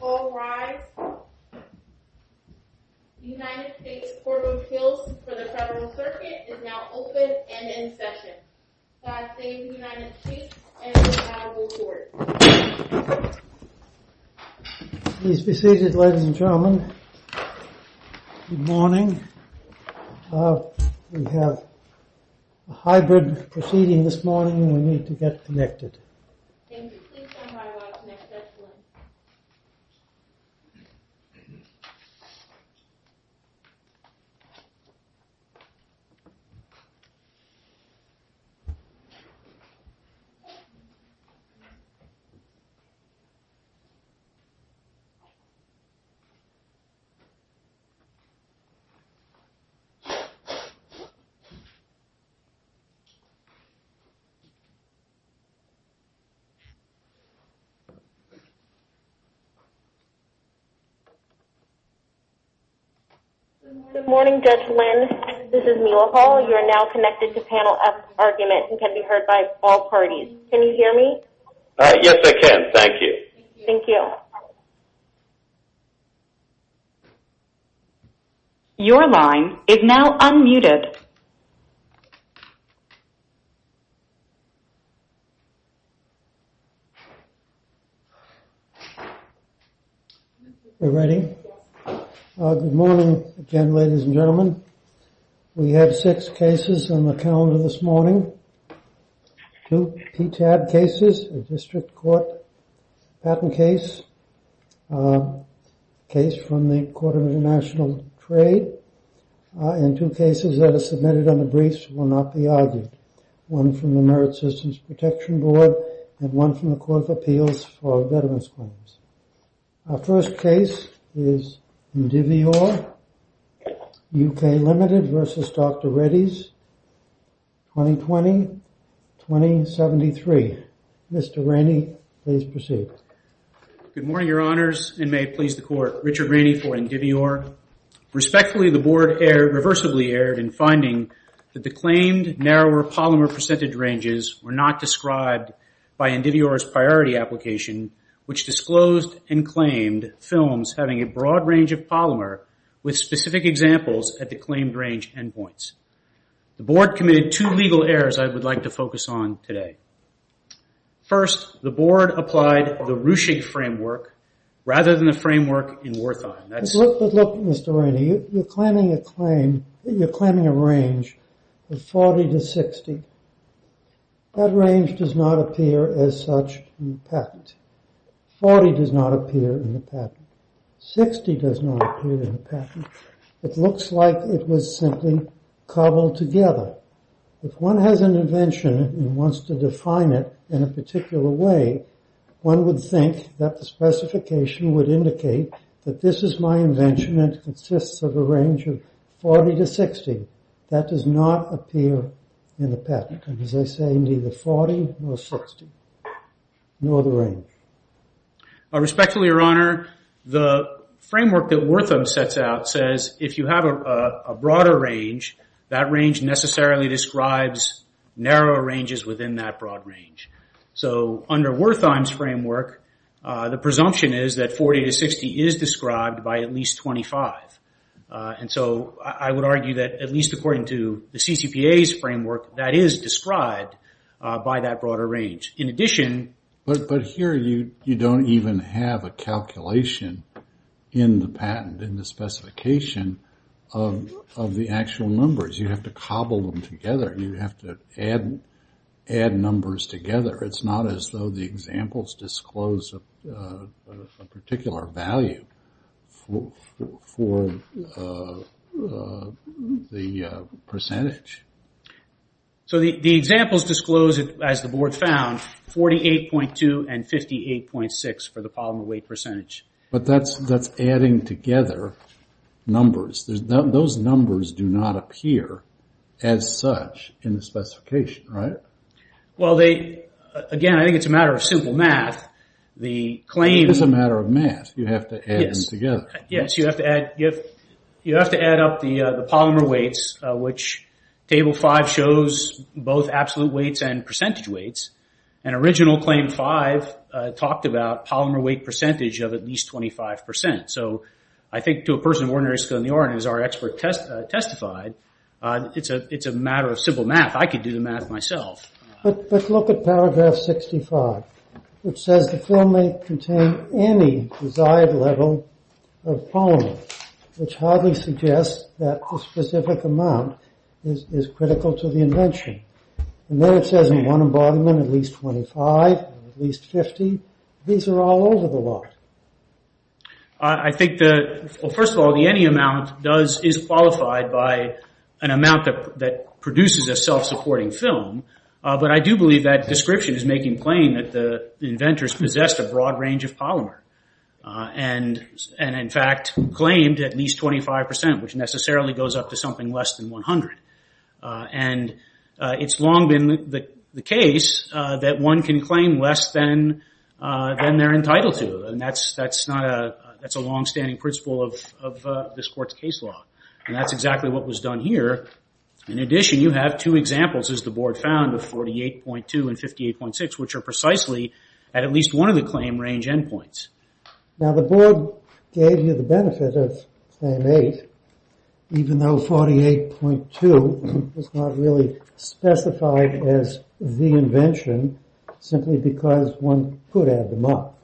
All rise. United States Court of Appeals for the Federal Circuit is now open and in session. I say to the United States and the Honorable Court. Please be seated, ladies and gentlemen. Good morning. We have a hybrid proceeding this morning and we need to get connected. Thank you. Please find my watch next to that one. Good morning, Judge Lynn. This is Mila Hall. You are now connected to panel F argument and can be heard by all parties. Can you hear me? Yes, I can. Thank you. Thank you. Your line is now unmuted. We're ready. Good morning again, ladies and gentlemen. We have six cases on the calendar this morning. Two PTAB cases, a district court patent case, a case from the Court of International Trade, and two cases that are submitted on the briefs will not be argued. One from the Merit Systems Protection Board and one from the Court of Appeals for Veterans Claims. Our first case is Indivior, UK Limited versus Dr. Reddy's, 2020-2073. Mr. Rainey, please proceed. Good morning, Your Honors, and may it please the Court. Richard Rainey for Indivior. Respectfully, the Board reversibly erred in finding that the claimed narrower polymer percentage ranges were not described by Indivior's priority application, which disclosed and claimed films having a broad range of polymer with specific examples at the claimed range endpoints. The Board committed two legal errors I would like to focus on today. First, the Board applied the Ruchig framework rather than the framework in Wertheim. But look, Mr. Rainey, you're claiming a range of 40 to 60. That range does not appear as such in the patent. 40 does not appear in the patent. 60 does not appear in the patent. It looks like it was simply cobbled together. If one has an invention and wants to define it in a particular way, one would think that the specification would indicate that this is my invention and it consists of a range of 40 to 60. That does not appear in the patent. As I say, neither 40 nor 60, nor the range. Respectfully, Your Honor, the framework that Wertheim sets out says if you have a broader range, that range necessarily describes narrower ranges within that broad range. So under Wertheim's framework, the presumption is that 40 to 60 is described by at least 25. So I would argue that at least according to the CCPA's framework, that is described by that broader range. In addition... But here you don't even have a calculation in the patent, in the specification of the actual numbers. You have to cobble them together. You have to add numbers together. It's not as though the examples disclose a particular value for the percentage. So the examples disclose, as the Board found, 48.2 and 58.6 for the polymer weight percentage. But that's adding together numbers. Those numbers do not appear as such in the specification, right? Well, again, I think it's a matter of simple math. It's a matter of math. You have to add them together. Yes, you have to add up the polymer weights, which Table 5 shows both absolute weights and percentage weights. And original Claim 5 talked about polymer weight percentage of at least 25%. So I think to a person of ordinary skill in the art, as our expert testified, it's a matter of simple math. I could do the math myself. But look at paragraph 65, which says the film may contain any desired level of polymer, which hardly suggests that the specific amount is critical to the invention. And there it says in one embodiment at least 25, at least 50. These are all over the lot. I think that, well, first of all, the any amount is qualified by an amount that produces a self-supporting film. But I do believe that description is making plain that the inventors possessed a broad range of polymer. And in fact, claimed at least 25%, which necessarily goes up to something less than 100. And it's long been the case that one can claim less than they're entitled to. And that's a longstanding principle of this court's case law. And that's exactly what was done here. In addition, you have two examples, as the board found, of 48.2 and 58.6, which are precisely at at least one of the claim range endpoints. Now, the board gave you the benefit of Claim 8, even though 48.2 was not really specified as the invention, simply because one could add them up.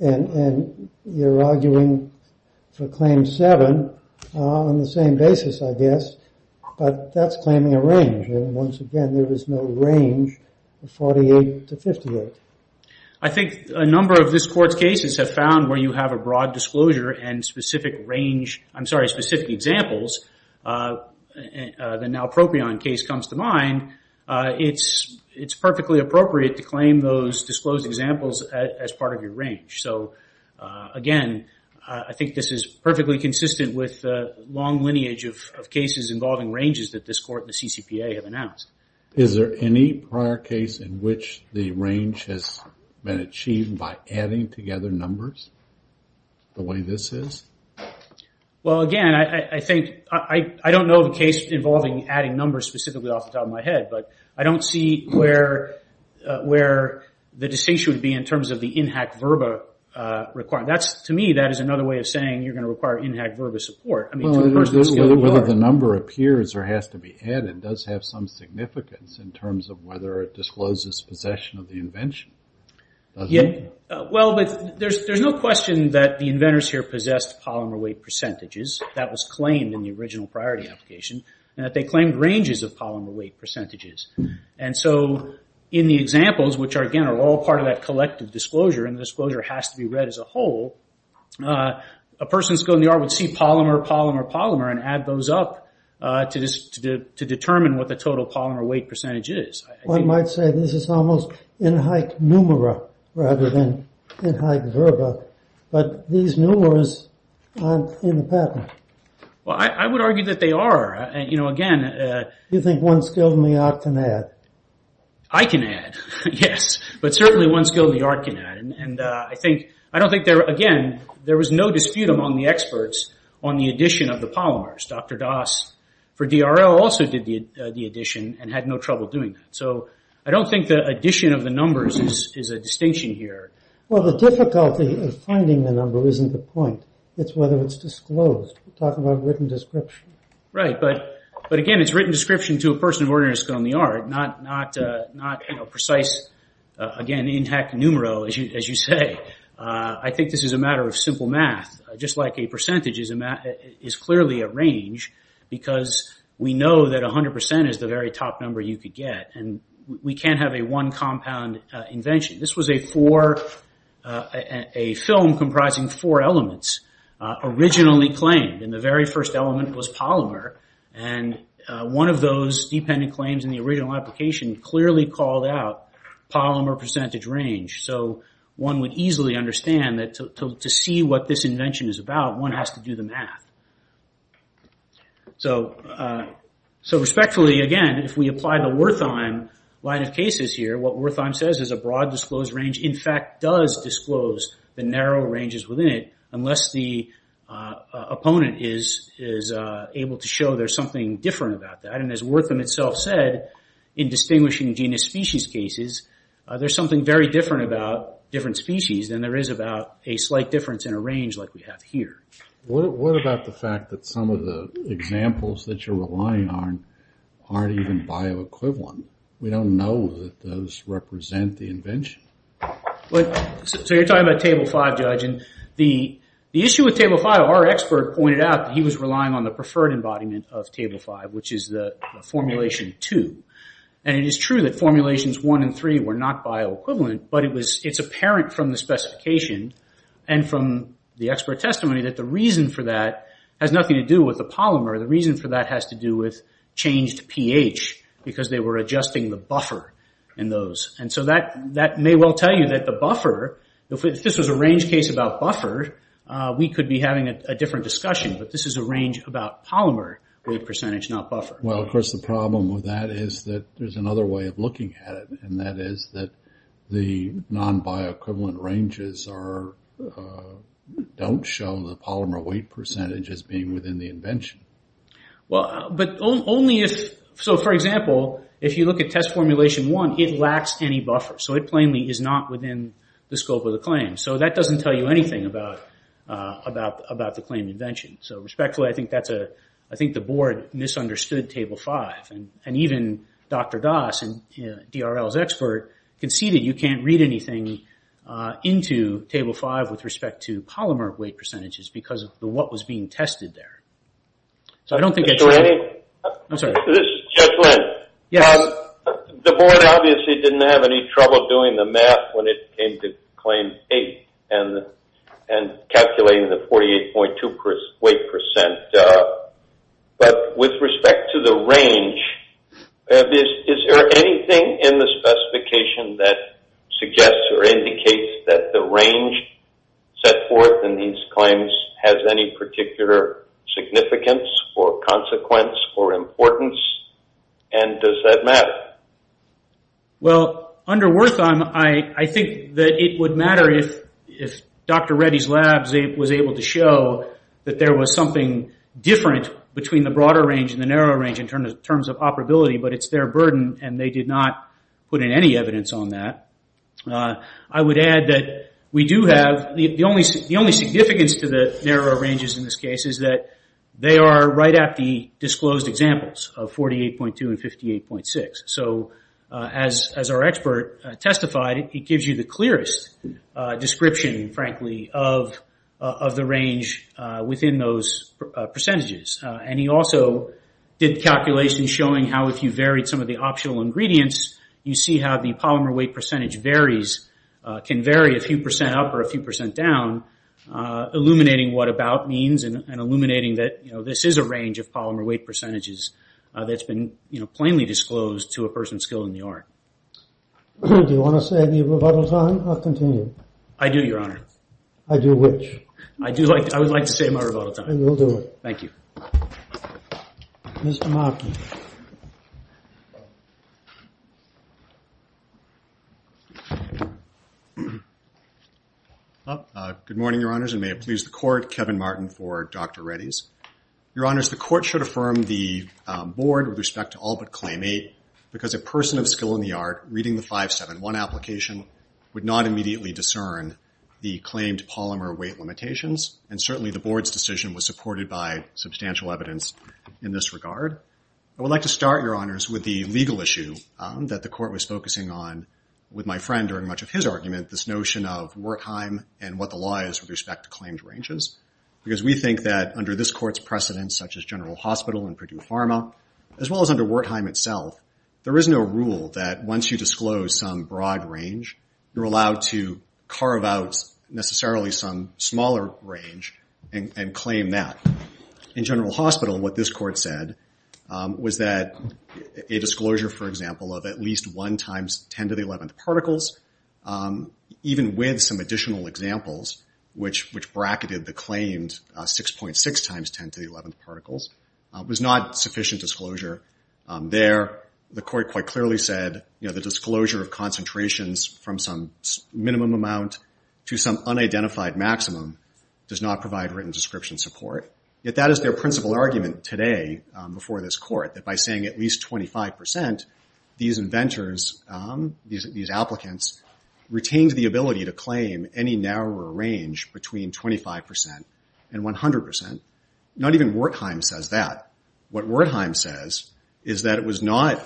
And you're arguing for Claim 7 on the same basis, I guess. But that's claiming a range. And once again, there is no range of 48 to 58. I think a number of this court's cases have found where you have a broad disclosure and specific range, I'm sorry, specific examples. The Nalpropion case comes to mind. It's perfectly appropriate to claim those disclosed examples as part of your range. So again, I think this is perfectly consistent with the long lineage of cases involving ranges that this court and the CCPA have announced. Is there any prior case in which the range has been achieved by adding together numbers the way this is? Well, again, I think, I don't know of a case involving adding numbers specifically off the top of my head, but I don't see where the distinction would be in terms of the INHAC VRBA requirement. To me, that is another way of saying you're going to require INHAC VRBA support. Whether the number appears or has to be added does have some significance in terms of whether it discloses possession of the invention. Well, there's no question that the inventors here possessed polymer weight percentages. That was claimed in the original priority application. And that they claimed ranges of polymer weight percentages. And so in the examples, which again are all part of that collective disclosure, and the disclosure has to be read as a whole, a person skilled in the art would see polymer, polymer, polymer, and add those up to determine what the total polymer weight percentage is. One might say this is almost INHAC numera rather than INHAC VRBA. But these numeras aren't in the patent. Well, I would argue that they are. You know, again... You think one skilled in the art can add? I can add, yes. But certainly one skilled in the art can add. And I don't think, again, there was no dispute among the experts on the addition of the polymers. Dr. Das for DRL also did the addition and had no trouble doing that. So I don't think the addition of the numbers is a distinction here. Well, the difficulty of finding the number isn't the point. It's whether it's disclosed. We're talking about written description. Right. But again, it's written description to a person of ordinary skill in the art, not precise, again, INHAC numero, as you say. I think this is a matter of simple math. Just like a percentage is clearly a range because we know that 100% is the very top number you could get. And we can't have a one-compound invention. This was a film comprising four elements originally claimed. And the very first element was polymer. And one of those dependent claims in the original application clearly called out polymer percentage range. So one would easily understand that to see what this invention is about, one has to do the math. So respectfully, again, if we apply the Wertheim line of cases here, what Wertheim says is a broad disclosed range, in fact, does disclose the narrow ranges within it, and the opponent is able to show there's something different about that. And as Wertheim itself said, in distinguishing genus species cases, there's something very different about different species than there is about a slight difference in a range like we have here. What about the fact that some of the examples that you're relying on aren't even bioequivalent? We don't know that those represent the invention. So you're talking about Table 5, Judge. And the issue with Table 5, our expert pointed out that he was relying on the preferred embodiment of Table 5, which is the formulation 2. And it is true that formulations 1 and 3 were not bioequivalent, but it's apparent from the specification and from the expert testimony that the reason for that has nothing to do with the polymer. The reason for that has to do with changed pH because they were adjusting the buffer in those. And so that may well tell you that the buffer, if this was a range case about buffer, we could be having a different discussion. But this is a range about polymer weight percentage, not buffer. Well, of course, the problem with that is that there's another way of looking at it, and that is that the non-bioequivalent ranges don't show the polymer weight percentage as being within the invention. But only if, so for example, if you look at test formulation 1, it lacks any buffer. So it plainly is not within the scope of the claim. So that doesn't tell you anything about the claim invention. So respectfully, I think the board misunderstood Table 5. And even Dr. Das, DRL's expert, conceded you can't read anything into Table 5 with respect to polymer weight percentages because of what was being tested there. So I don't think that's right. This is Jeff Lynn. The board obviously didn't have any trouble doing the math when it came to Claim 8 and calculating the 48.2 weight percent. But with respect to the range, is there anything in the specification that suggests or indicates that the range set forth in these claims has any particular significance or consequence or importance? And does that matter? Well, under Wertham, I think that it would matter if Dr. Reddy's lab was able to show that there was something different between the broader range and the narrower range in terms of operability. But it's their burden, and they did not put in any evidence on that. I would add that the only significance to the narrower ranges in this case is that they are right at the disclosed examples of 48.2 and 58.6. So as our expert testified, it gives you the clearest description, frankly, of the range within those percentages. And he also did calculations showing how if you varied some of the optional ingredients, you see how the polymer weight percentage varies, can vary a few percent up or a few percent down, illuminating what about means and illuminating that this is a range of polymer weight percentages that's been plainly disclosed to a person skilled in the art. Do you want to say any rebuttal time or continue? I do, Your Honor. I do which? I would like to say my rebuttal time. Then we'll do it. Thank you. Mr. Markey. Good morning, Your Honors, and may it please the Court, Kevin Martin for Dr. Reddy's. Your Honors, the Court should affirm the Board with respect to all but Claim 8 because a person of skill in the art reading the 571 application would not immediately discern the claimed polymer weight limitations, and certainly the Board's decision was supported by substantial evidence in this regard. I would like to start, Your Honors, with the legal issue that the Court was focusing on with my friend during much of his argument, this notion of Wertheim and what the law is with respect to claimed ranges because we think that under this Court's precedents, such as General Hospital and Purdue Pharma, as well as under Wertheim itself, there is no rule that once you disclose some broad range, you're allowed to carve out necessarily some smaller range and claim that. In General Hospital, what this Court said was that a disclosure, for example, of at least 1 times 10 to the 11th particles, even with some additional examples, which bracketed the claimed 6.6 times 10 to the 11th particles, was not sufficient disclosure. There, the Court quite clearly said the disclosure of concentrations from some minimum amount to some unidentified maximum does not provide written description support. Yet that is their principal argument today before this Court, that by saying at least 25 percent, these inventors, these applicants, retained the ability to claim any narrower range between 25 percent and 100 percent. Not even Wertheim says that. What Wertheim says is that it was not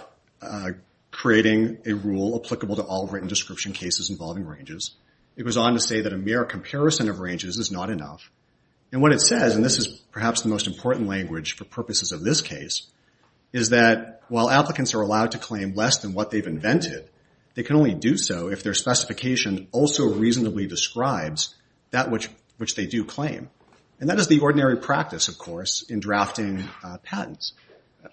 creating a rule applicable to all written description cases involving ranges. It was on to say that a mere comparison of ranges is not enough. And what it says, and this is perhaps the most important language for purposes of this case, is that while applicants are allowed to claim less than what they've invented, they can only do so if their specification also reasonably describes that which they do claim. And that is the ordinary practice, of course, in drafting patents.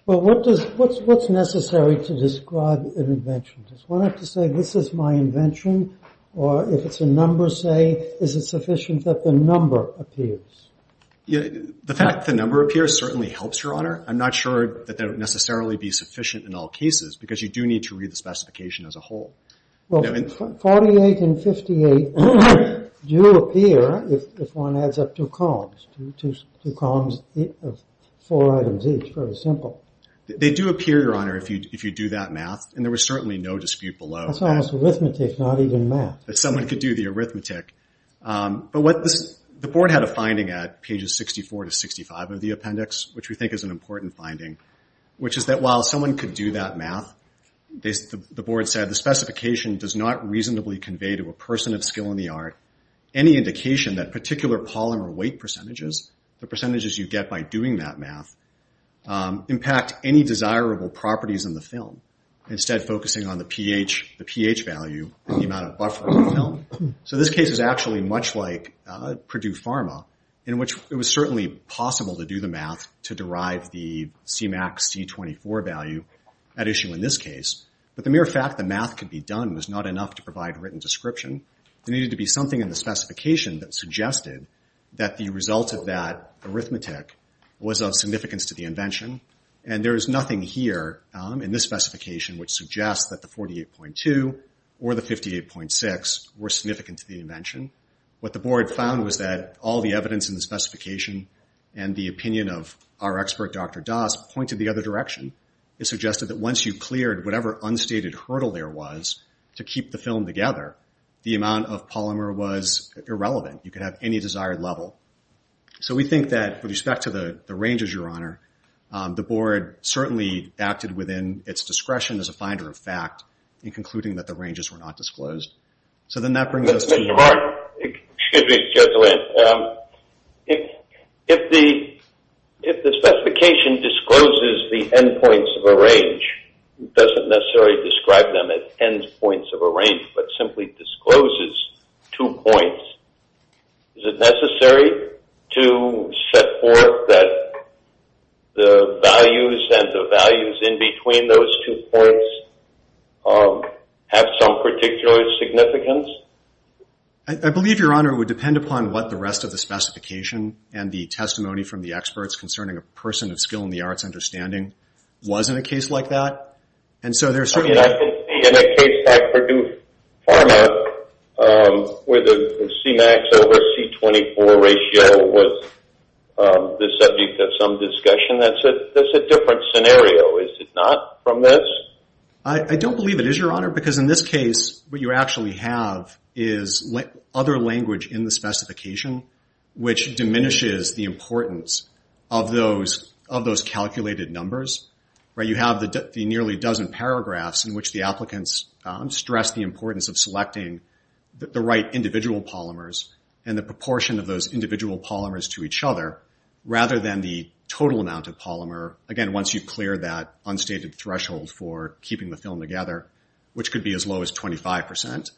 Well, what's necessary to describe an invention? Does one have to say, this is my invention? Or if it's a number, say, is it sufficient that the number appears? The fact that the number appears certainly helps, Your Honor. I'm not sure that that would necessarily be sufficient in all cases, because you do need to read the specification as a whole. Well, 48 and 58 do appear if one adds up two columns, two columns of four items each. Very simple. They do appear, Your Honor, if you do that math, and there was certainly no dispute below. That's almost arithmetic, not even math. But someone could do the arithmetic. But the board had a finding at pages 64 to 65 of the appendix, which we think is an important finding, which is that while someone could do that math, the board said, the specification does not reasonably convey to a person of skill in the art any indication that particular polymer weight percentages, the percentages you get by doing that math, impact any desirable properties in the film, instead focusing on the pH value and the amount of buffer in the film. So this case is actually much like Purdue Pharma, in which it was certainly possible to do the math to derive the Cmax C24 value at issue in this case. But the mere fact that math could be done was not enough to provide written description. There needed to be something in the specification that suggested that the result of that arithmetic was of significance to the invention. And there is nothing here in this specification which suggests that the 48.2 or the 58.6 were significant to the invention. What the board found was that all the evidence in the specification and the opinion of our expert, Dr. Das, pointed the other direction. It suggested that once you cleared whatever unstated hurdle there was to keep the film together, the amount of polymer was irrelevant. You could have any desired level. So we think that with respect to the ranges, Your Honor, the board certainly acted within its discretion as a finder of fact in concluding that the ranges were not disclosed. So then that brings us to your question. Excuse me, Your Honor. If the specification discloses the endpoints of a range, it doesn't necessarily describe them as endpoints of a range, but simply discloses two points, is it necessary to set forth that the values and the values in between those two points have some particular significance? I believe, Your Honor, it would depend upon what the rest of the specification and the testimony from the experts concerning a person of skill in the arts understanding was in a case like that. In a case like Purdue Pharma, where the C-max over C-24 ratio was the subject of some discussion, that's a different scenario. Is it not from this? I don't believe it is, Your Honor, because in this case what you actually have is other language in the specification, which diminishes the importance of those calculated numbers. You have the nearly dozen paragraphs in which the applicants stress the importance of selecting the right individual polymers and the proportion of those individual polymers to each other, rather than the total amount of polymer. Again, once you clear that unstated threshold for keeping the film together, which could be as low as 25%.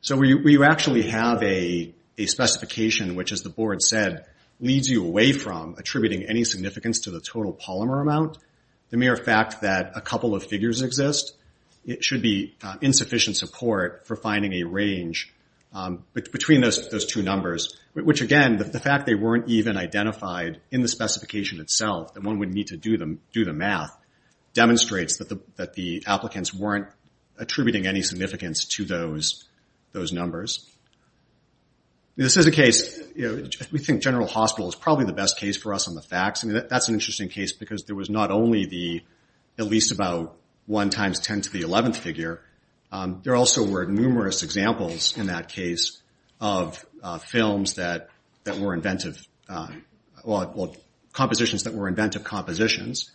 So you actually have a specification which, as the Board said, leads you away from attributing any significance to the total polymer amount. The mere fact that a couple of figures exist should be insufficient support for finding a range between those two numbers, which again, the fact they weren't even identified in the specification itself, and one would need to do the math, demonstrates that the applicants weren't attributing any significance to those numbers. This is a case, we think General Hospital is probably the best case for us on the facts, and that's an interesting case because there was not only the, at least about one times 10 to the 11th figure, there also were numerous examples in that case of films that were inventive, well, compositions that were inventive compositions.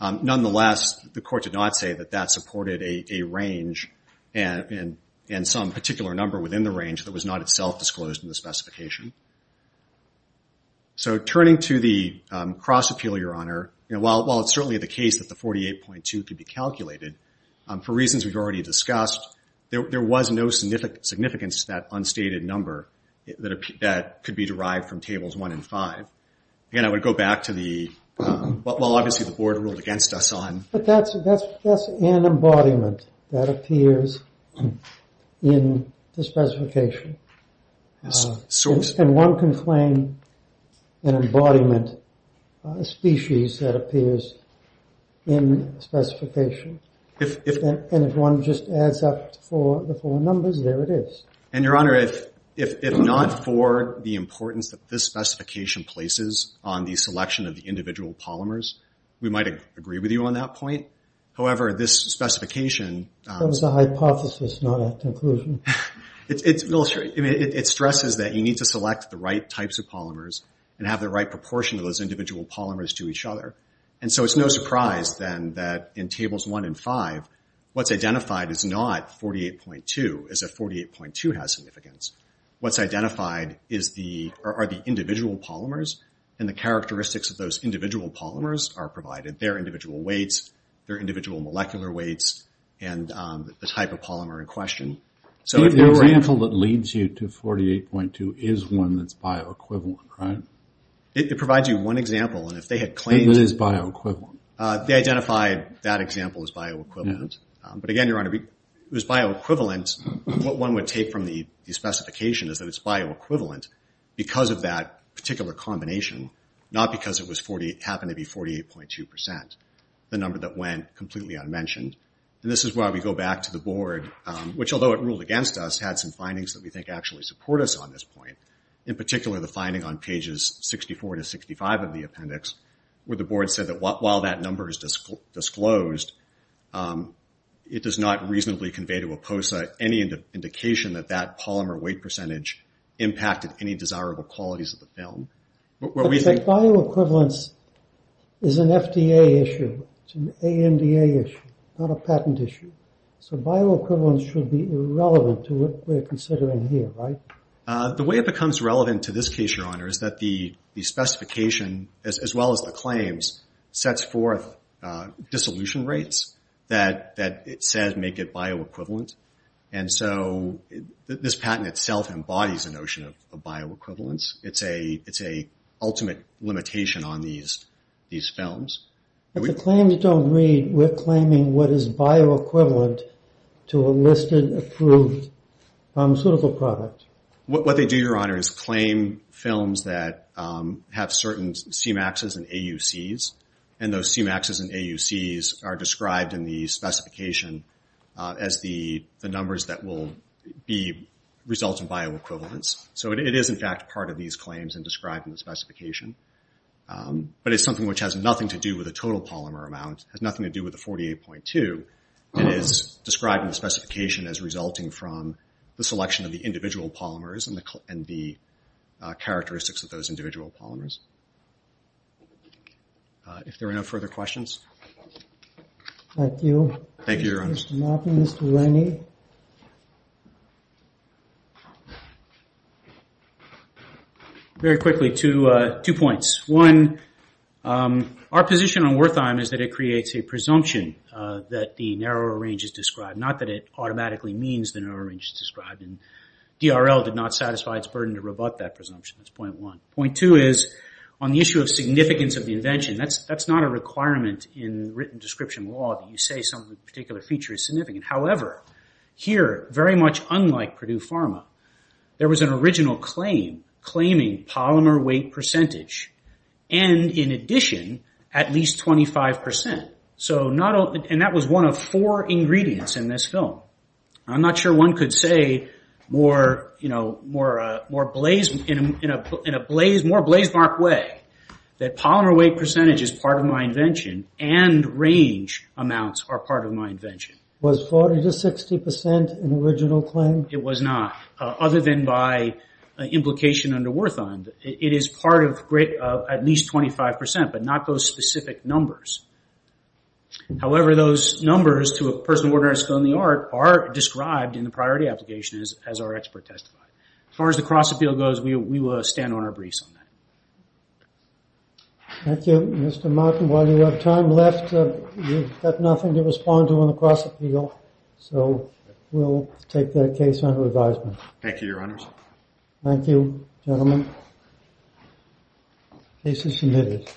Nonetheless, the Court did not say that that supported a range and some particular number within the range that was not itself disclosed in the specification. So turning to the cross appeal, Your Honor, while it's certainly the case that the 48.2 could be calculated, for reasons we've already discussed, there was no significance to that unstated number that could be derived from tables one and five. Again, I would go back to the, well, obviously the Board ruled against us on. But that's an embodiment that appears in the specification. And one can claim an embodiment, a species that appears in the specification. And if one just adds up the four numbers, there it is. And, Your Honor, if not for the importance that this specification places on the selection of the individual polymers, we might agree with you on that point. However, this specification. That was a hypothesis, not a conclusion. It stresses that you need to select the right types of polymers and have the right proportion of those individual polymers to each other. And so it's no surprise, then, that in tables one and five, what's identified is not 48.2, as if 48.2 has significance. What's identified are the individual polymers, and the characteristics of those individual polymers are provided. They're individual weights, they're individual molecular weights, and the type of polymer in question. The example that leads you to 48.2 is one that's bioequivalent, right? It provides you one example. And if they had claimed it is bioequivalent. They identified that example as bioequivalent. But, again, Your Honor, it was bioequivalent. What one would take from the specification is that it's bioequivalent because of that particular combination, not because it happened to be 48.2%, the number that went completely unmentioned. And this is why we go back to the board, which, although it ruled against us, had some findings that we think actually support us on this point, in particular the finding on pages 64 to 65 of the appendix, where the board said that while that number is disclosed, it does not reasonably convey to APOSA any indication that that polymer weight percentage impacted any desirable qualities of the film. But bioequivalence is an FDA issue. It's an AMDA issue, not a patent issue. So bioequivalence should be irrelevant to what we're considering here, right? The way it becomes relevant to this case, Your Honor, is that the specification, as well as the claims, sets forth dissolution rates that it said make it bioequivalent. And so this patent itself embodies the notion of bioequivalence. It's an ultimate limitation on these films. If the claims don't read, we're claiming what is bioequivalent to a listed approved pharmaceutical product. What they do, Your Honor, is claim films that have certain CMAXs and AUCs, and those CMAXs and AUCs are described in the specification as the numbers that will result in bioequivalence. So it is, in fact, part of these claims and described in the specification. But it's something which has nothing to do with the total polymer amount, has nothing to do with the 48.2, and is described in the specification as resulting from the selection of the individual polymers and the characteristics of those individual polymers. If there are no further questions. Thank you. Thank you, Your Honor. Mr. Moffitt, Mr. Rennie. Very quickly, two points. One, our position on Wertheim is that it creates a presumption that the narrower range is described, not that it automatically means the narrower range is described. DRL did not satisfy its burden to rebut that presumption. That's point one. Point two is, on the issue of significance of the invention, that's not a requirement in written description law that you say some particular feature is significant. However, here, very much unlike Purdue Pharma, there was an original claim claiming polymer weight percentage, and in addition, at least 25%. That was one of four ingredients in this film. I'm not sure one could say in a more blazemark way that polymer weight percentage is part of my invention and range amounts are part of my invention. Was 40 to 60% an original claim? It was not, other than by implication under Wertheim. It is part of at least 25%, but not those specific numbers. However, those numbers, to a person of ordinary skill in the art, are described in the priority application as our expert testified. As far as the cross-appeal goes, we will stand on our briefs on that. Thank you. Mr. Martin, while you have time left, you've got nothing to respond to on the cross-appeal, Thank you, Your Honors. Thank you, gentlemen. This is submitted. Thank you.